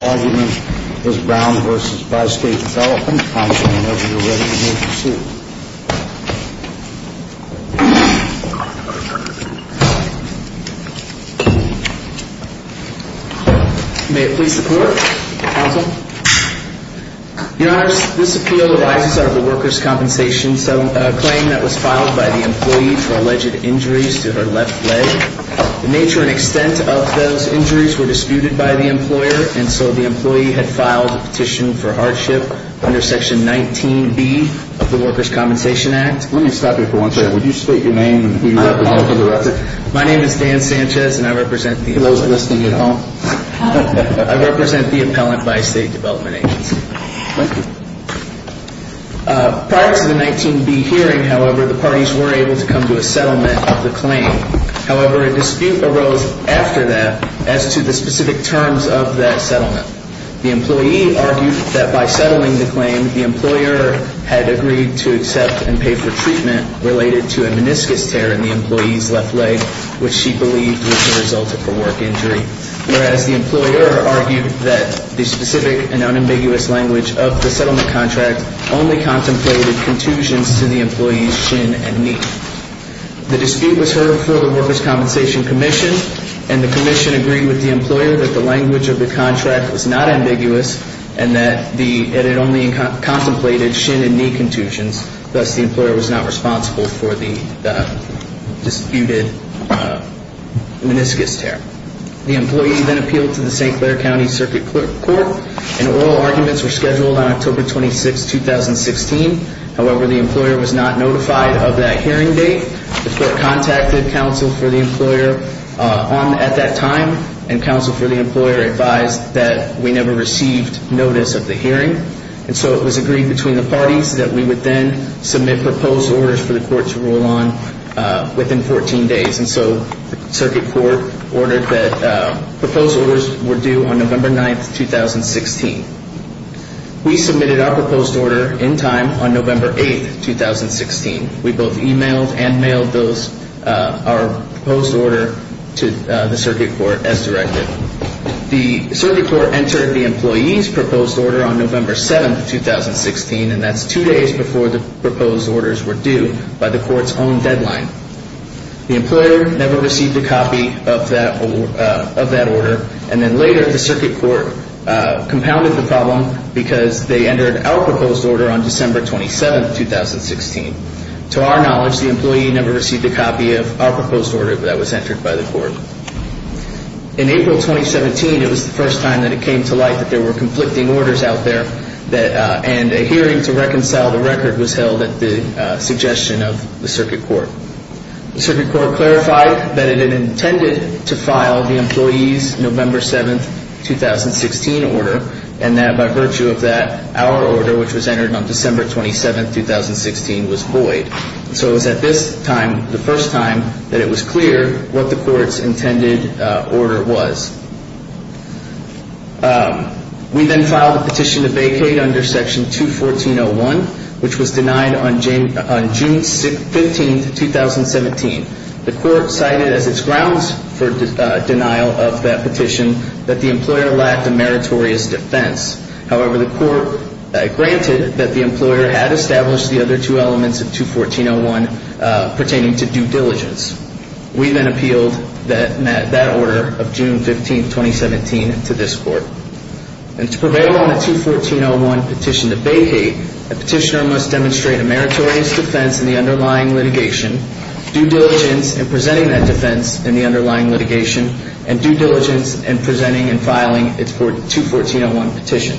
argument is Brown v. Bi-State Development, counsel, and I hope you're ready to move the suit. May it please the court, counsel. Your Honor, this appeal arises out of the workers' compensation claim that was filed by the employee for alleged injuries to her left leg. The nature and extent of those injuries were disputed by the employer, and so the employee had filed a petition for hardship under Section 19B of the Workers' Compensation Act. Let me stop you for one second. Would you state your name and who you represent for the record? My name is Dan Sanchez, and I represent the appellant. He wasn't listening at all. I represent the appellant by State Development Agency. Thank you. Prior to the 19B hearing, however, the parties were able to come to a settlement of the claim. However, a dispute arose after that as to the specific terms of that settlement. The employee argued that by settling the claim, the employer had agreed to accept and pay for treatment related to a meniscus tear in the employee's left leg, which she believed was the result of a work injury. Whereas the employer argued that the specific and unambiguous language of the settlement contract only contemplated contusions to the employee's shin and knee. The dispute was heard before the Workers' Compensation Commission, and the commission agreed with the employer that the language of the contract was not ambiguous and that it only contemplated shin and knee contusions. Thus, the employer was not responsible for the disputed meniscus tear. The employee then appealed to the St. Clair County Circuit Court, and oral arguments were scheduled on October 26, 2016. However, the employer was not notified of that hearing date. The court contacted counsel for the employer at that time, and counsel for the employer advised that we never received notice of the hearing. It was agreed between the parties that we would then submit proposed orders for the court to rule on within 14 days. The proposed orders were due on November 9, 2016. We submitted our proposed order in time on November 8, 2016. We both emailed and mailed our proposed order to the circuit court as directed. The circuit court entered the employee's proposed order on November 7, 2016, and that's two days before the proposed orders were due by the court's own deadline. The employer never received a copy of that order, and then later the circuit court compounded the problem because they entered our proposed order on December 27, 2016. To our knowledge, the employee never received a copy of our proposed order that was entered by the court. In April 2017, it was the first time that it came to light that there were conflicting orders out there, and a hearing to reconcile the record was held at the suggestion of the circuit court. The circuit court clarified that it had intended to file the employee's November 7, 2016 order, and that by virtue of that, our order, which was entered on December 27, 2016, was void. So it was at this time, the first time, that it was clear what the court's intended order was. We then filed a petition to vacate under Section 214.01, which was denied on June 15, 2017. The court cited as its grounds for denial of that petition that the employer lacked a meritorious defense. However, the court granted that the employer had established the other two elements of 214.01 pertaining to due diligence. We then appealed that order of June 15, 2017 to this court. And to prevail on the 214.01 petition to vacate, a petitioner must demonstrate a meritorious defense in the underlying litigation, due diligence in presenting that defense in the underlying litigation, and due diligence in presenting and filing its 214.01 petition.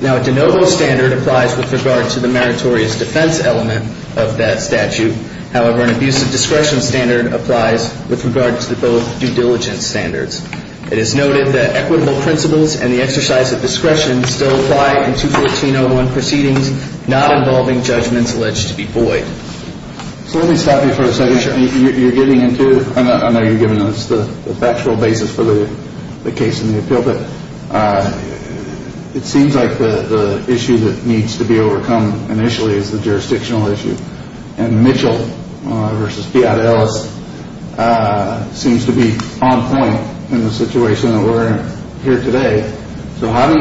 Now, a de novo standard applies with regard to the meritorious defense element of that statute. However, an abusive discretion standard applies with regard to both due diligence standards. It is noted that equitable principles and the exercise of discretion still apply in 214.01 proceedings, not involving judgments alleged to be void. So let me stop you for a second. You're getting into, I know you're giving us the factual basis for the case in the appeal, but it seems like the issue that needs to be overcome initially is the jurisdictional issue. And Mitchell versus Fiat Ellis seems to be on point in the situation that we're in here today. So how do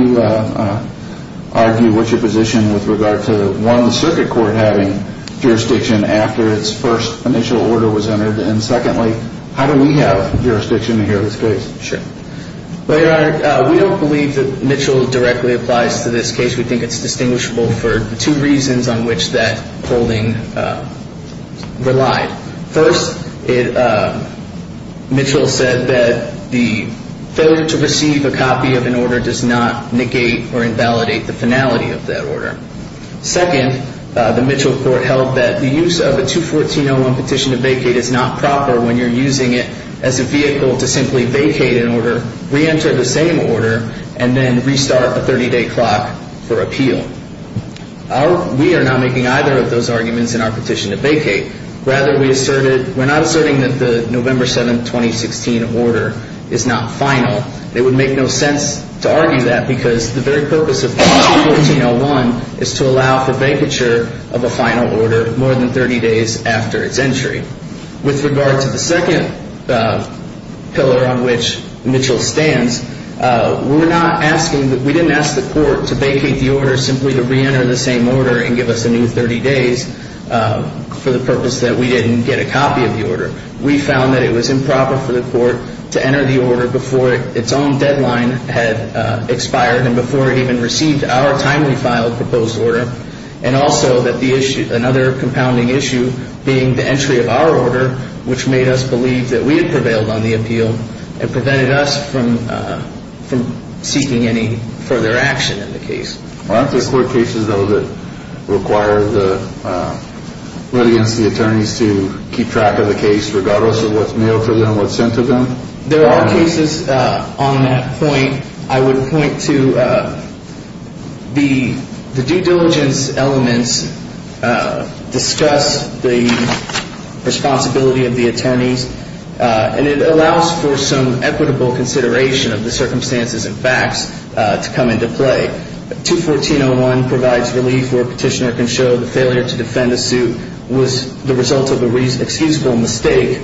you argue what's your position with regard to, one, the circuit court having jurisdiction after its first initial order was entered? And secondly, how do we have jurisdiction here in this case? Sure. Well, Your Honor, we don't believe that Mitchell directly applies to this case. We think it's distinguishable for two reasons on which that holding relied. First, Mitchell said that the failure to receive a copy of an order does not negate or invalidate the finality of that order. Second, the Mitchell court held that the use of a 214.01 petition to vacate is not proper when you're using it as a vehicle to simply vacate an order, reenter the same order, and then restart a 30-day clock for appeal. We are not making either of those arguments in our petition to vacate. Rather, we asserted we're not asserting that the November 7, 2016, order is not final. It would make no sense to argue that because the very purpose of 214.01 is to allow for vacature of a final order more than 30 days after its entry. With regard to the second pillar on which Mitchell stands, we're not asking, we didn't ask the court to vacate the order simply to reenter the same order and give us a new 30 days for the purpose that we didn't get a copy of the order. We found that it was improper for the court to enter the order before its own deadline had expired and before it even received our timely filed proposed order, and also that the issue, another compounding issue being the entry of our order, which made us believe that we had prevailed on the appeal and prevented us from seeking any further action in the case. Aren't there court cases, though, that require the let against the attorneys to keep track of the case, regardless of what's mailed to them, what's sent to them? There are cases on that point. I would point to the due diligence elements discuss the responsibility of the attorneys, and it allows for some equitable consideration of the circumstances and facts to come into play. 214.01 provides relief where a petitioner can show the failure to defend a suit was the result of an excusable mistake.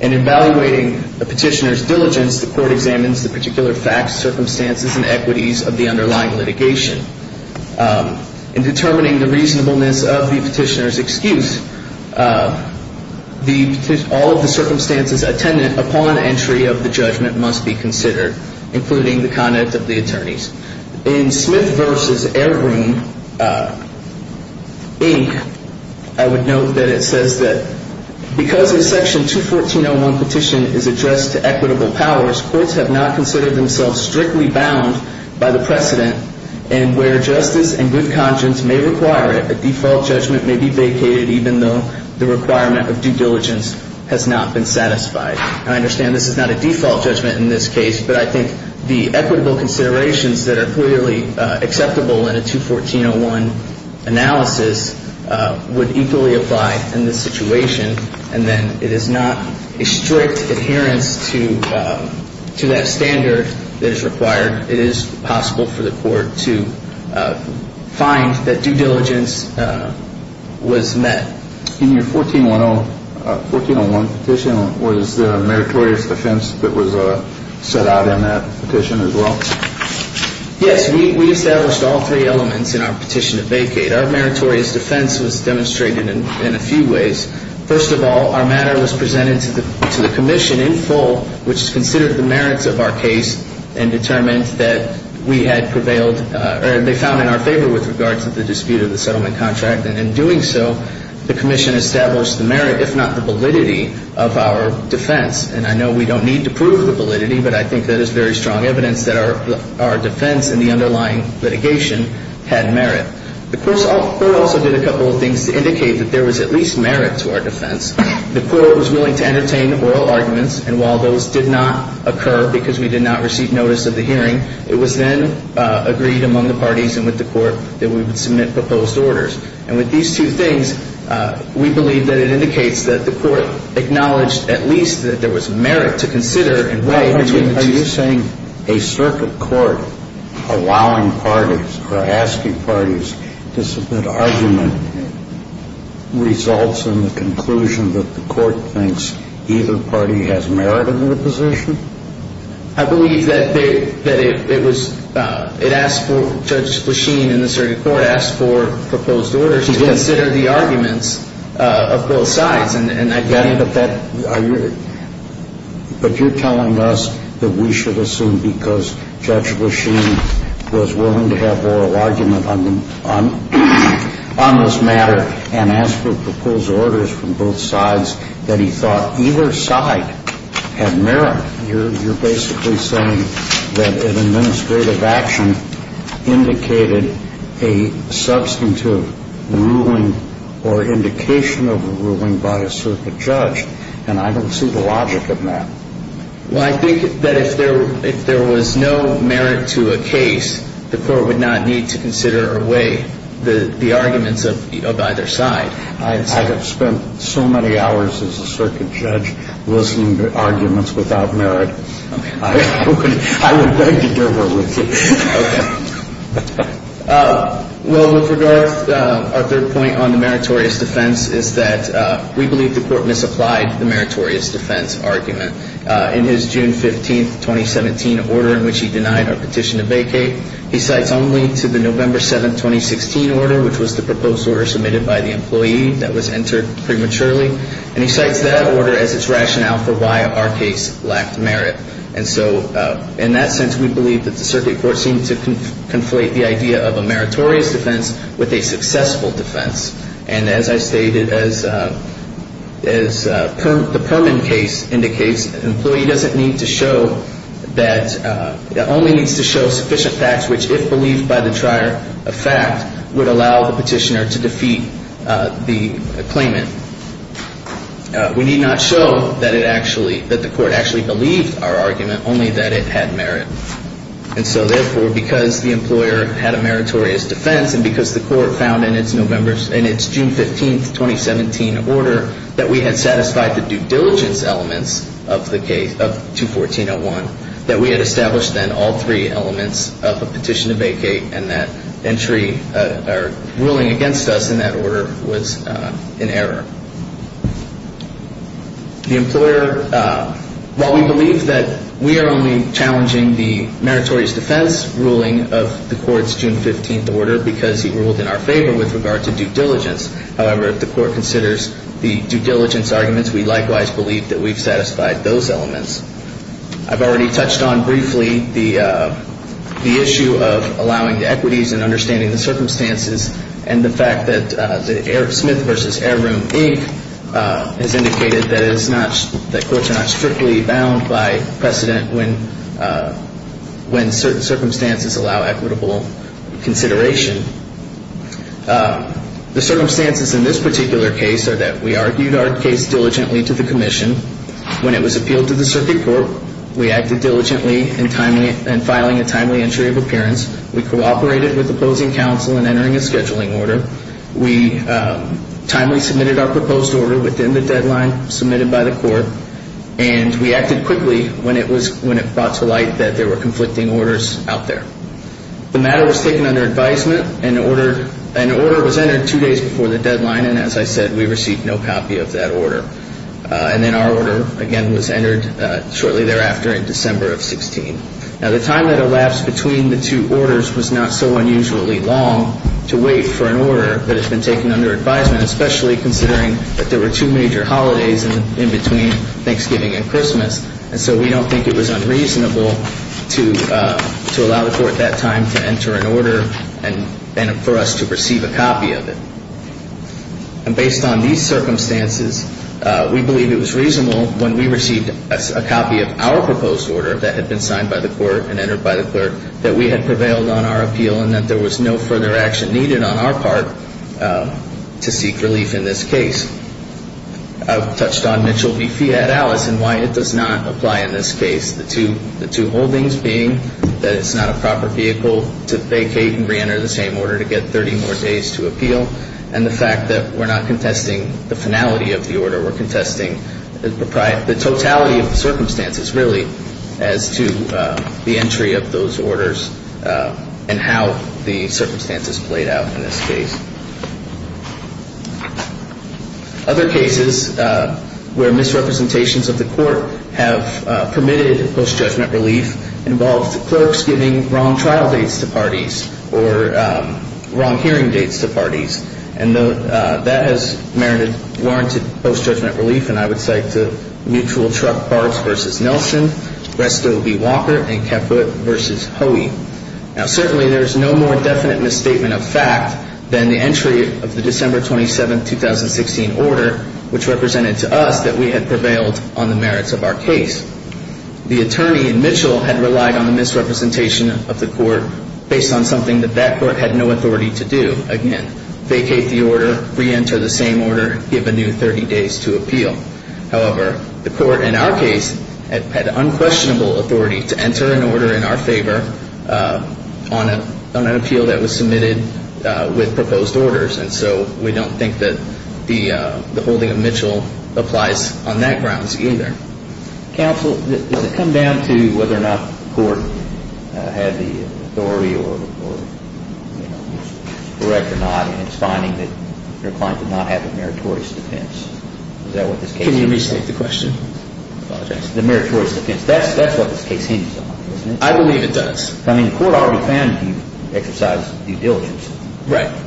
In evaluating a petitioner's diligence, the court examines the particular facts, circumstances, and equities of the underlying litigation. In determining the reasonableness of the petitioner's excuse, all of the circumstances attendant upon entry of the judgment must be considered, including the conduct of the attorneys. In Smith v. Airbroom, Inc., I would note that it says that, because a Section 214.01 petition is addressed to equitable powers, courts have not considered themselves strictly bound by the precedent, and where justice and good conscience may require it, a default judgment may be vacated, even though the requirement of due diligence has not been satisfied. And I understand this is not a default judgment in this case, but I think the equitable considerations that are clearly acceptable in a 214.01 analysis would equally apply in this situation. And then it is not a strict adherence to that standard that is required. It is possible for the court to find that due diligence was met. In your 14.01 petition, was there a meritorious defense that was set out in that petition as well? Yes, we established all three elements in our petition to vacate. Our meritorious defense was demonstrated in a few ways. First of all, our matter was presented to the commission in full, which considered the merits of our case and determined that we had prevailed or they found in our favor with regards to the dispute of the settlement contract. And in doing so, the commission established the merit, if not the validity, of our defense. And I know we don't need to prove the validity, but I think that is very strong evidence that our defense and the underlying litigation had merit. The court also did a couple of things to indicate that there was at least merit to our defense. The court was willing to entertain oral arguments, and while those did not occur because we did not receive notice of the hearing, it was then agreed among the parties and with the court that we would submit proposed orders. And with these two things, we believe that it indicates that the court acknowledged at least that there was merit to consider and weigh between the two. Are you saying a circuit court allowing parties or asking parties to submit argument results in the conclusion that the court thinks either party has merit in the position? I believe that it was – it asked for – Judge Lasheen in the circuit court asked for proposed orders to consider the arguments of both sides. But you're telling us that we should assume because Judge Lasheen was willing to have oral argument on this matter and asked for proposed orders from both sides that he thought either side had merit. You're basically saying that an administrative action indicated a substantive ruling or indication of a ruling by a circuit judge, and I don't see the logic in that. Well, I think that if there was no merit to a case, the court would not need to consider or weigh the arguments of either side. I have spent so many hours as a circuit judge listening to arguments without merit. I would beg to differ with you. Okay. Well, with regard, our third point on the meritorious defense is that we believe the court misapplied the meritorious defense argument. In his June 15, 2017, order in which he denied our petition to vacate, he cites only to the November 7, 2016 order, which was the proposed order submitted by the employee that was entered prematurely. And he cites that order as its rationale for why our case lacked merit. And so in that sense, we believe that the circuit court seemed to conflate the idea of a meritorious defense with a successful defense. And as I stated, as the Perman case indicates, an employee only needs to show sufficient facts which, if believed by the trier of fact, would allow the petitioner to defeat the claimant. We need not show that the court actually believed our argument, only that it had merit. And so therefore, because the employer had a meritorious defense, and because the court found in its June 15, 2017, order that we had satisfied the due diligence elements of 214-01, that we had established then all three elements of a petition to vacate, and that ruling against us in that order was in error. The employer, while we believe that we are only challenging the meritorious defense ruling of the court's June 15 order because he ruled in our favor with regard to due diligence, however, if the court considers the due diligence arguments, we likewise believe that we've satisfied those elements. I've already touched on briefly the issue of allowing the equities and understanding the circumstances and the fact that Smith v. Airroom, Inc. has indicated that courts are not strictly bound by precedent when certain circumstances allow equitable consideration. The circumstances in this particular case are that we argued our case diligently to the commission. When it was appealed to the circuit court, we acted diligently in filing a timely entry of appearance. We cooperated with opposing counsel in entering a scheduling order. We timely submitted our proposed order within the deadline submitted by the court, and we acted quickly when it was brought to light that there were conflicting orders out there. The matter was taken under advisement. An order was entered two days before the deadline, and as I said, we received no copy of that order. And then our order, again, was entered shortly thereafter in December of 16. Now, the time that elapsed between the two orders was not so unusually long to wait for an order that had been taken under advisement, especially considering that there were two major holidays in between Thanksgiving and Christmas. And so we don't think it was unreasonable to allow the court that time to enter an order and for us to receive a copy of it. And based on these circumstances, we believe it was reasonable when we received a copy of our proposed order that had been signed by the court and entered by the clerk that we had prevailed on our appeal and that there was no further action needed on our part to seek relief in this case. I've touched on Mitchell v. Fiat Alice and why it does not apply in this case, the two holdings being that it's not a proper vehicle to vacate and reenter the same order to get 30 more days to appeal and the fact that we're not contesting the finality of the order. We're contesting the totality of the circumstances, really, as to the entry of those orders and how the circumstances played out in this case. Other cases where misrepresentations of the court have permitted post-judgment relief involve the clerks giving wrong trial dates to parties or wrong hearing dates to parties. And that has merited warranted post-judgment relief, and I would say to Mutual Truck Barbs v. Nelson, Resto B. Walker, and Keput v. Hoey. Now, certainly there is no more definite misstatement of fact than the entry of the December 27, 2016 order, which represented to us that we had prevailed on the merits of our case. The attorney in Mitchell had relied on the misrepresentation of the court based on something that that court had no authority to do. Again, vacate the order, reenter the same order, give a new 30 days to appeal. However, the court in our case had unquestionable authority to enter an order in our favor on an appeal that was submitted with proposed orders, and so we don't think that the holding of Mitchell applies on that grounds either. Counsel, does it come down to whether or not the court had the authority or was correct or not, and it's finding that your client did not have a meritorious defense? Can you restate the question? The meritorious defense, that's what this case hinges on, isn't it? I believe it does. I mean, the court already found that you exercised due diligence. Right.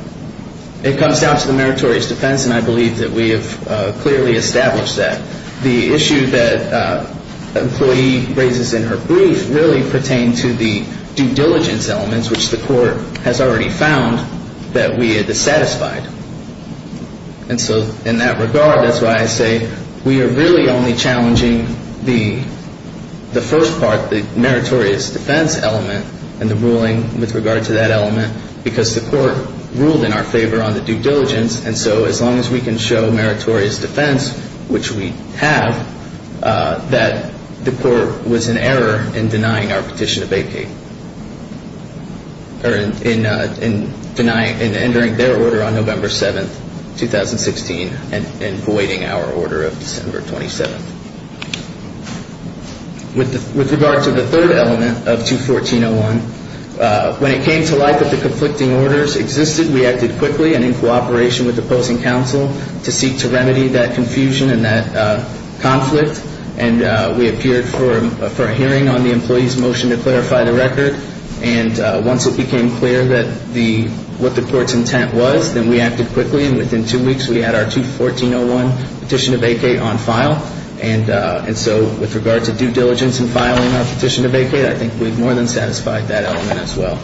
It comes down to the meritorious defense, and I believe that we have clearly established that. The issue that the employee raises in her brief really pertained to the due diligence elements, which the court has already found that we had dissatisfied. And so in that regard, that's why I say we are really only challenging the first part, the meritorious defense element and the ruling with regard to that element, because the court ruled in our favor on the due diligence, and so as long as we can show meritorious defense, which we have, that the court was in error in denying our petition to vacate or in denying and entering their order on November 7th, 2016 and voiding our order of December 27th. With regard to the third element of 214-01, when it came to light that the conflicting orders existed, we acted quickly and in cooperation with the opposing counsel to seek to remedy that confusion and that conflict, and we appeared for a hearing on the employee's motion to clarify the record, and once it became clear what the court's intent was, then we acted quickly, and within two weeks we had our 214-01 petition to vacate on file. And so with regard to due diligence and filing our petition to vacate, I think we've more than satisfied that element as well.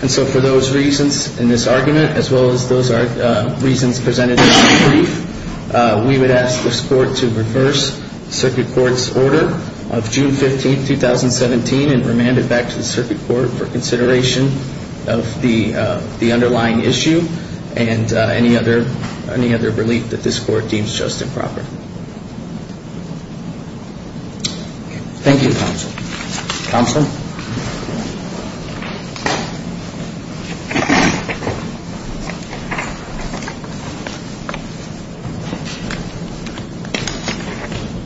And so for those reasons in this argument, as well as those reasons presented in the brief, we would ask this court to reverse the circuit court's order of June 15th, 2017 and remand it back to the circuit court for consideration of the underlying issue and any other relief that this court deems just and proper. Thank you, counsel. Counsel?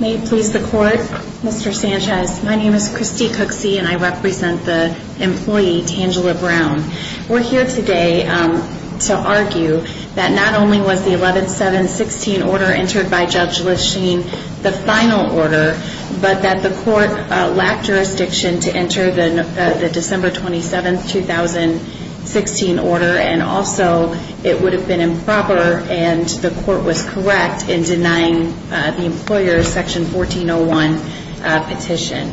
May it please the court. Mr. Sanchez, my name is Christy Cooksey, and I represent the employee, Tangela Brown. We're here today to argue that not only was the 11-7-16 order entered by Judge Lichten the final order, but that the court lacked jurisdiction to enter the December 27th, 2016 order, and also it would have been improper and the court was correct in denying the employer's Section 14-01 petition.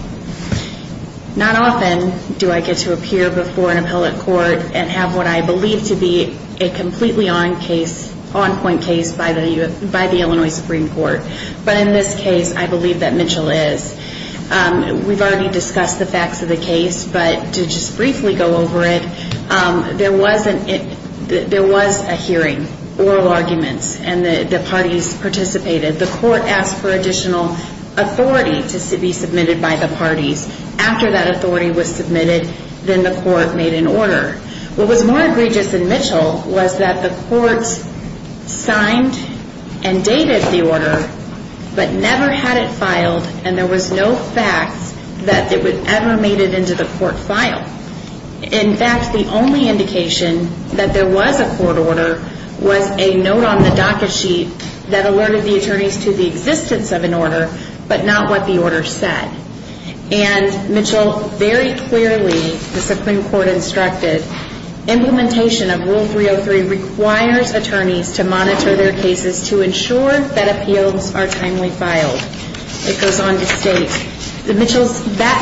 Not often do I get to appear before an appellate court and have what I believe to be a completely on-point case by the Illinois Supreme Court. But in this case, I believe that Mitchell is. We've already discussed the facts of the case, but to just briefly go over it, there was a hearing, oral arguments, and the parties participated. The court asked for additional authority to be submitted by the parties. After that authority was submitted, then the court made an order. What was more egregious in Mitchell was that the court signed and dated the order, but never had it filed, and there was no fact that it would ever made it into the court file. In fact, the only indication that there was a court order was a note on the docket sheet that alerted the attorneys to the existence of an order, but not what the order said. And Mitchell very clearly, the Supreme Court instructed, implementation of Rule 303 requires attorneys to monitor their cases to ensure that appeals are timely filed. It goes on to state that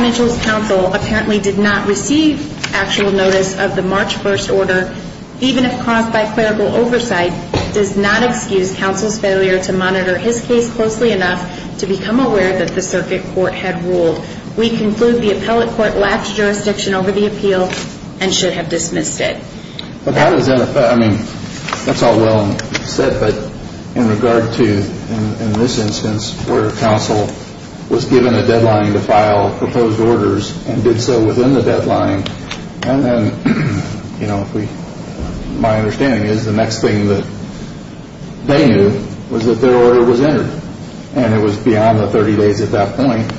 Mitchell's counsel apparently did not receive actual notice of the March 1st order, even if caused by clerical oversight, does not excuse counsel's failure to monitor his case closely enough to become aware that the circuit court had ruled. We conclude the appellate court lapsed jurisdiction over the appeal and should have dismissed it. But how does that affect, I mean, that's all well said, but in regard to, in this instance, where counsel was given a deadline to file proposed orders and did so within the deadline, and then, you know, my understanding is the next thing that they knew was that their order was entered, and it was beyond the 30 days at that point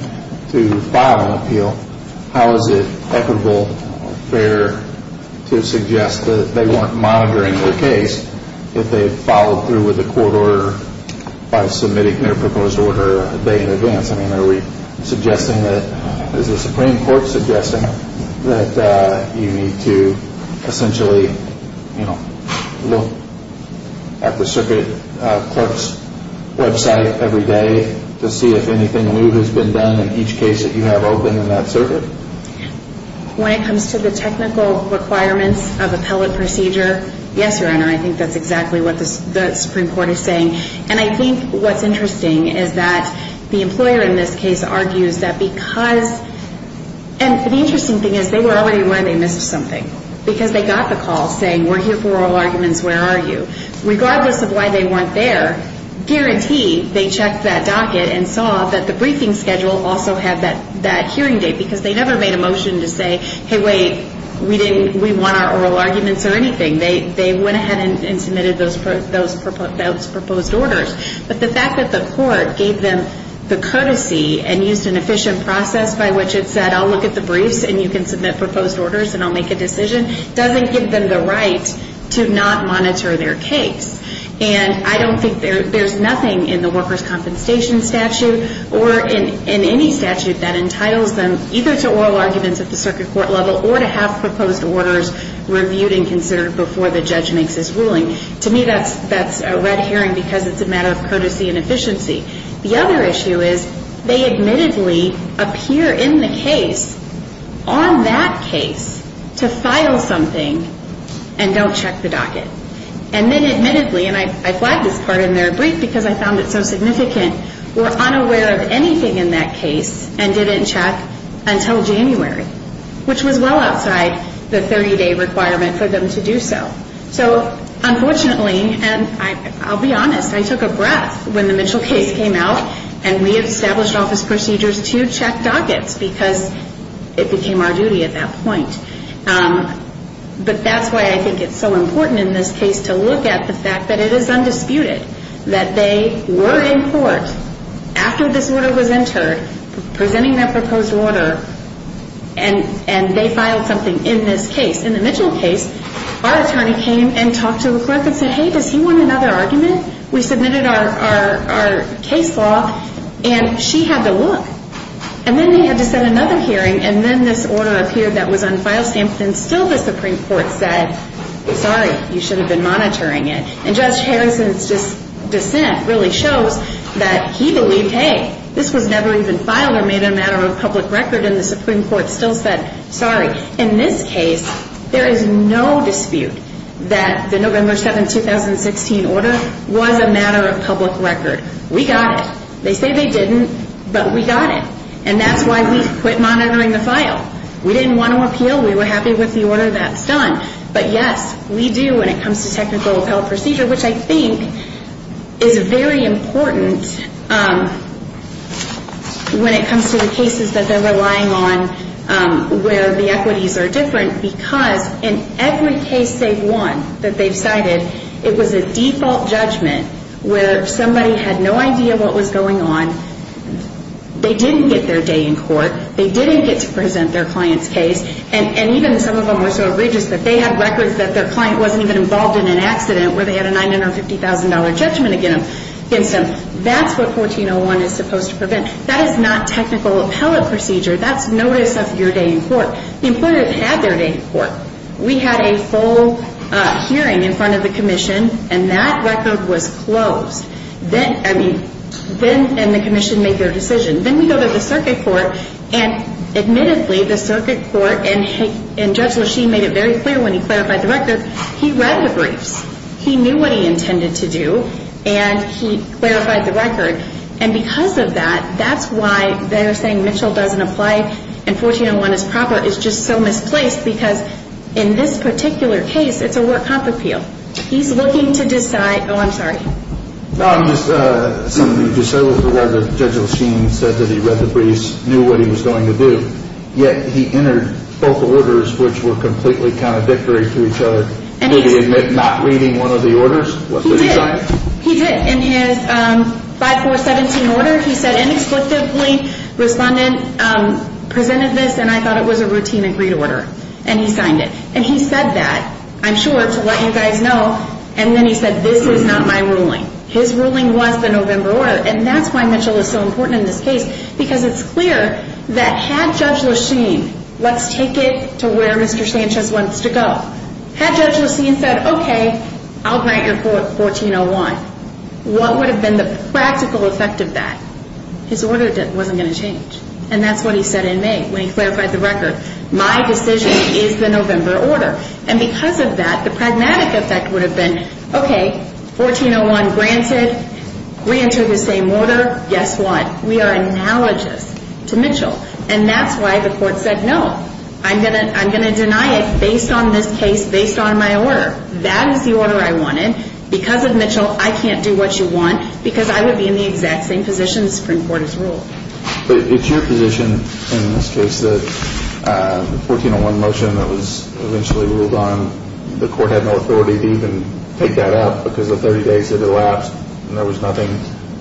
to file an appeal. How is it equitable or fair to suggest that they weren't monitoring their case if they had followed through with the court order by submitting their proposed order a day in advance? I mean, are we suggesting that, is the Supreme Court suggesting that you need to essentially, you know, look at the circuit clerk's website every day to see if anything new has been done in each case that you have open in that circuit? When it comes to the technical requirements of appellate procedure, yes, Your Honor, I think that's exactly what the Supreme Court is saying. And I think what's interesting is that the employer in this case argues that because, and the interesting thing is they were already aware they missed something, because they got the call saying, we're here for oral arguments, where are you? Regardless of why they weren't there, guarantee they checked that docket and saw that the briefing schedule also had that hearing date, because they never made a motion to say, hey, wait, we didn't, we want our oral arguments or anything. They went ahead and submitted those proposed orders. But the fact that the court gave them the courtesy and used an efficient process by which it said, I'll look at the briefs and you can submit proposed orders and I'll make a decision, doesn't give them the right to not monitor their case. And I don't think there's nothing in the workers' compensation statute or in any statute that entitles them either to oral arguments at the circuit court level or to have proposed orders reviewed and considered before the judge makes his ruling. To me, that's a red herring because it's a matter of courtesy and efficiency. The other issue is they admittedly appear in the case, on that case, to file something and don't check the docket. And then admittedly, and I flagged this part in their brief because I found it so significant, were unaware of anything in that case and didn't check until January, which was well outside the 30-day requirement for them to do so. So unfortunately, and I'll be honest, I took a breath when the Mitchell case came out and we established office procedures to check dockets because it became our duty at that point. But that's why I think it's so important in this case to look at the fact that it is undisputed that they were in court after this order was entered, presenting their proposed order, and they filed something in this case. In the Mitchell case, our attorney came and talked to the clerk and said, hey, does he want another argument? We submitted our case law, and she had to look. And then they had to set another hearing, and then this order appeared that was on file stamp, and still the Supreme Court said, sorry, you should have been monitoring it. And Judge Harrison's dissent really shows that he believed, hey, this was never even filed or made a matter of public record, and the Supreme Court still said, sorry. In this case, there is no dispute that the November 7, 2016 order was a matter of public record. We got it. They say they didn't, but we got it. And that's why we quit monitoring the file. We didn't want to appeal. We were happy with the order that's done. But, yes, we do when it comes to technical appellate procedure, which I think is very important when it comes to the cases that they're relying on where the equities are different because in every case they've won that they've cited, it was a default judgment where somebody had no idea what was going on. They didn't get their day in court. They didn't get to present their client's case. And even some of them were so egregious that they had records that their client wasn't even involved in an accident where they had a $950,000 judgment against them. That's what 1401 is supposed to prevent. That is not technical appellate procedure. That's notice of your day in court. The employer had their day in court. We had a full hearing in front of the commission, and that record was closed. Then, I mean, and the commission made their decision. Then we go to the circuit court, and admittedly, the circuit court and Judge Lasheen made it very clear when he clarified the record, he read the briefs. He knew what he intended to do, and he clarified the record. And because of that, that's why they're saying Mitchell doesn't apply and 1401 is proper is just so misplaced because in this particular case, it's a work comp appeal. He's looking to decide. Oh, I'm sorry. I'm just something to say with regard to Judge Lasheen said that he read the briefs, knew what he was going to do, yet he entered both orders, which were completely contradictory to each other. Did he admit not reading one of the orders? He did. He did. In his 5-4-17 order, he said inexplicably, respondent presented this, and I thought it was a routine agreed order, and he signed it. And he said that, I'm sure, to let you guys know. And then he said, this is not my ruling. His ruling was the November order, and that's why Mitchell is so important in this case because it's clear that had Judge Lasheen, let's take it to where Mr. Sanchez wants to go, had Judge Lasheen said, okay, I'll grant your court 1401, what would have been the practical effect of that? His order wasn't going to change. And that's what he said in May when he clarified the record. My decision is the November order. And because of that, the pragmatic effect would have been, okay, 1401 granted, we enter the same order, guess what? We are analogous to Mitchell. And that's why the court said no. I'm going to deny it based on this case, based on my order. That is the order I wanted. Because of Mitchell, I can't do what you want because I would be in the exact same position the Supreme Court has ruled. But it's your position in this case that the 1401 motion that was eventually ruled on, the court had no authority to even take that out because the 30 days had elapsed and there was nothing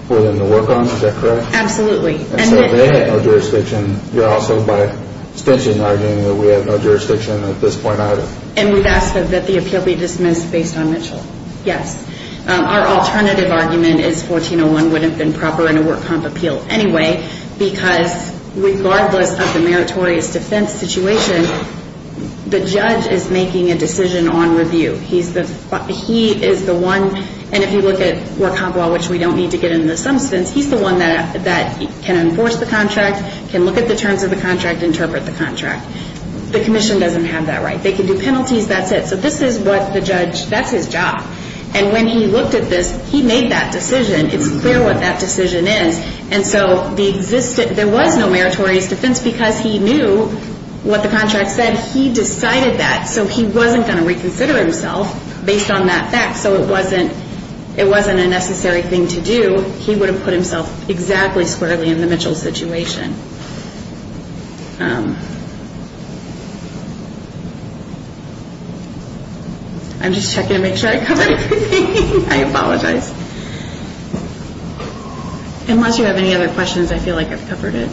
for them to work on. Is that correct? Absolutely. And so they had no jurisdiction. You're also by extension arguing that we have no jurisdiction at this point either. And we've asked that the appeal be dismissed based on Mitchell. Yes. Our alternative argument is 1401 wouldn't have been proper in a work comp appeal anyway because regardless of the meritorious defense situation, the judge is making a decision on review. He is the one, and if you look at work comp law, which we don't need to get into the substance, he's the one that can enforce the contract, can look at the terms of the contract, interpret the contract. The commission doesn't have that right. They can do penalties, that's it. So this is what the judge, that's his job. And when he looked at this, he made that decision. It's clear what that decision is. And so there was no meritorious defense because he knew what the contract said. He decided that. So he wasn't going to reconsider himself based on that fact. So it wasn't a necessary thing to do. He would have put himself exactly squarely in the Mitchell situation. I'm just checking to make sure I covered everything. I apologize. Unless you have any other questions, I feel like I've covered it.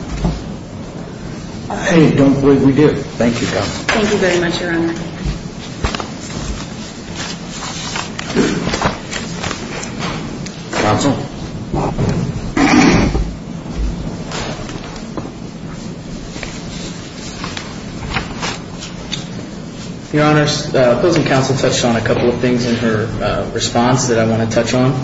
I don't believe we do. Thank you, counsel. Thank you very much, Your Honor. Thank you. Counsel? Your Honors, opposing counsel touched on a couple of things in her response that I want to touch on.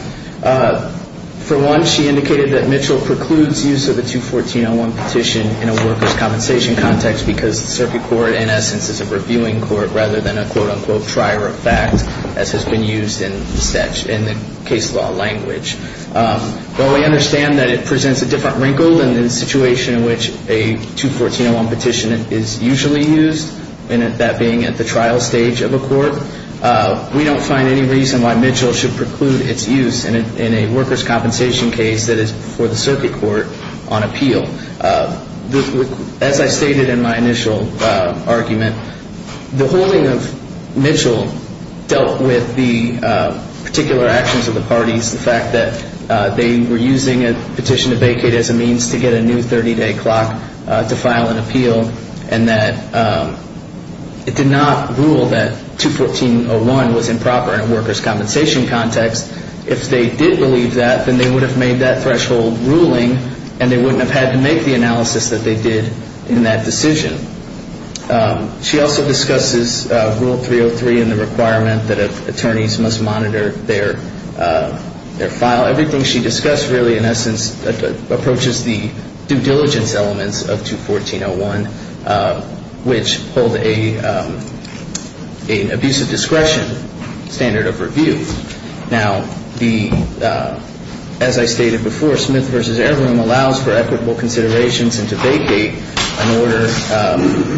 For one, she indicated that Mitchell precludes use of the 214-01 petition in a workers' compensation context because the circuit court, in essence, is a reviewing court rather than a, quote-unquote, trier of fact, as has been used in the case law language. While we understand that it presents a different wrinkle than the situation in which a 214-01 petition is usually used, that being at the trial stage of a court, we don't find any reason why Mitchell should preclude its use in a workers' compensation case that is before the circuit court on appeal. As I stated in my initial argument, the holding of Mitchell dealt with the particular actions of the parties, the fact that they were using a petition to vacate as a means to get a new 30-day clock to file an appeal and that it did not rule that 214-01 was improper in a workers' compensation context. If they did believe that, then they would have made that threshold ruling and they wouldn't have had to make the analysis that they did in that decision. She also discusses Rule 303 and the requirement that attorneys must monitor their file. Everything she discussed really, in essence, approaches the due diligence elements of 214-01, which hold an abusive discretion standard of review. Now, as I stated before, Smith v. Airroom allows for equitable considerations and to vacate an order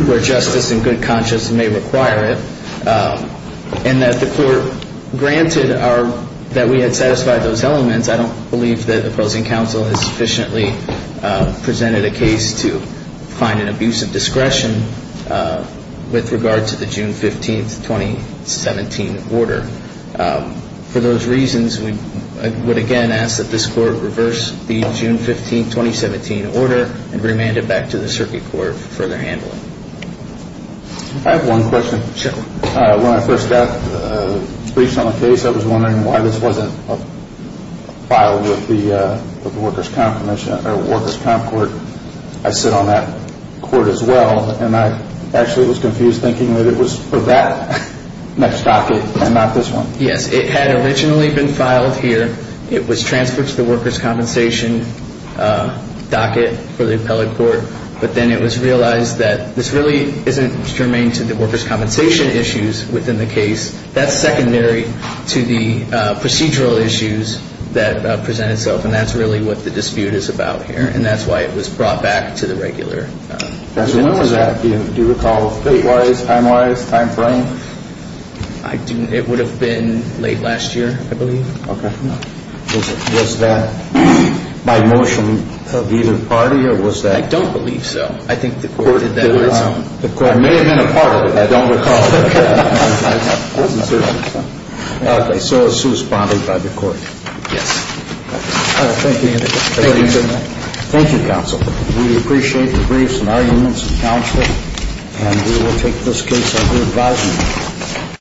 where justice and good conscience may require it, and that the court granted that we had satisfied those elements. I don't believe that opposing counsel has sufficiently presented a case to find an abusive discretion with regard to the June 15, 2017, order. For those reasons, we would again ask that this court reverse the June 15, 2017, order and remand it back to the Circuit Court for further handling. I have one question. When I first got briefed on the case, I was wondering why this wasn't filed with the Workers' Comp Court. I sit on that court as well, and I actually was confused thinking that it was for that next docket and not this one. Yes, it had originally been filed here. It was transferred to the Workers' Compensation docket for the Appellate Court, but then it was realized that this really isn't germane to the Workers' Compensation issues within the case. That's secondary to the procedural issues that present itself, and that's really what the dispute is about here, and that's why it was brought back to the regular. When was that? Do you recall date-wise, time-wise, time frame? It would have been late last year, I believe. Okay. Was that by motion of either party, or was that? I don't believe so. I think the court did that on its own. It may have been a part of it. I don't recall. I wasn't sure. Okay. Thank you. Thank you, counsel. We appreciate the briefs and arguments and counsel, and we will take this case under advisement.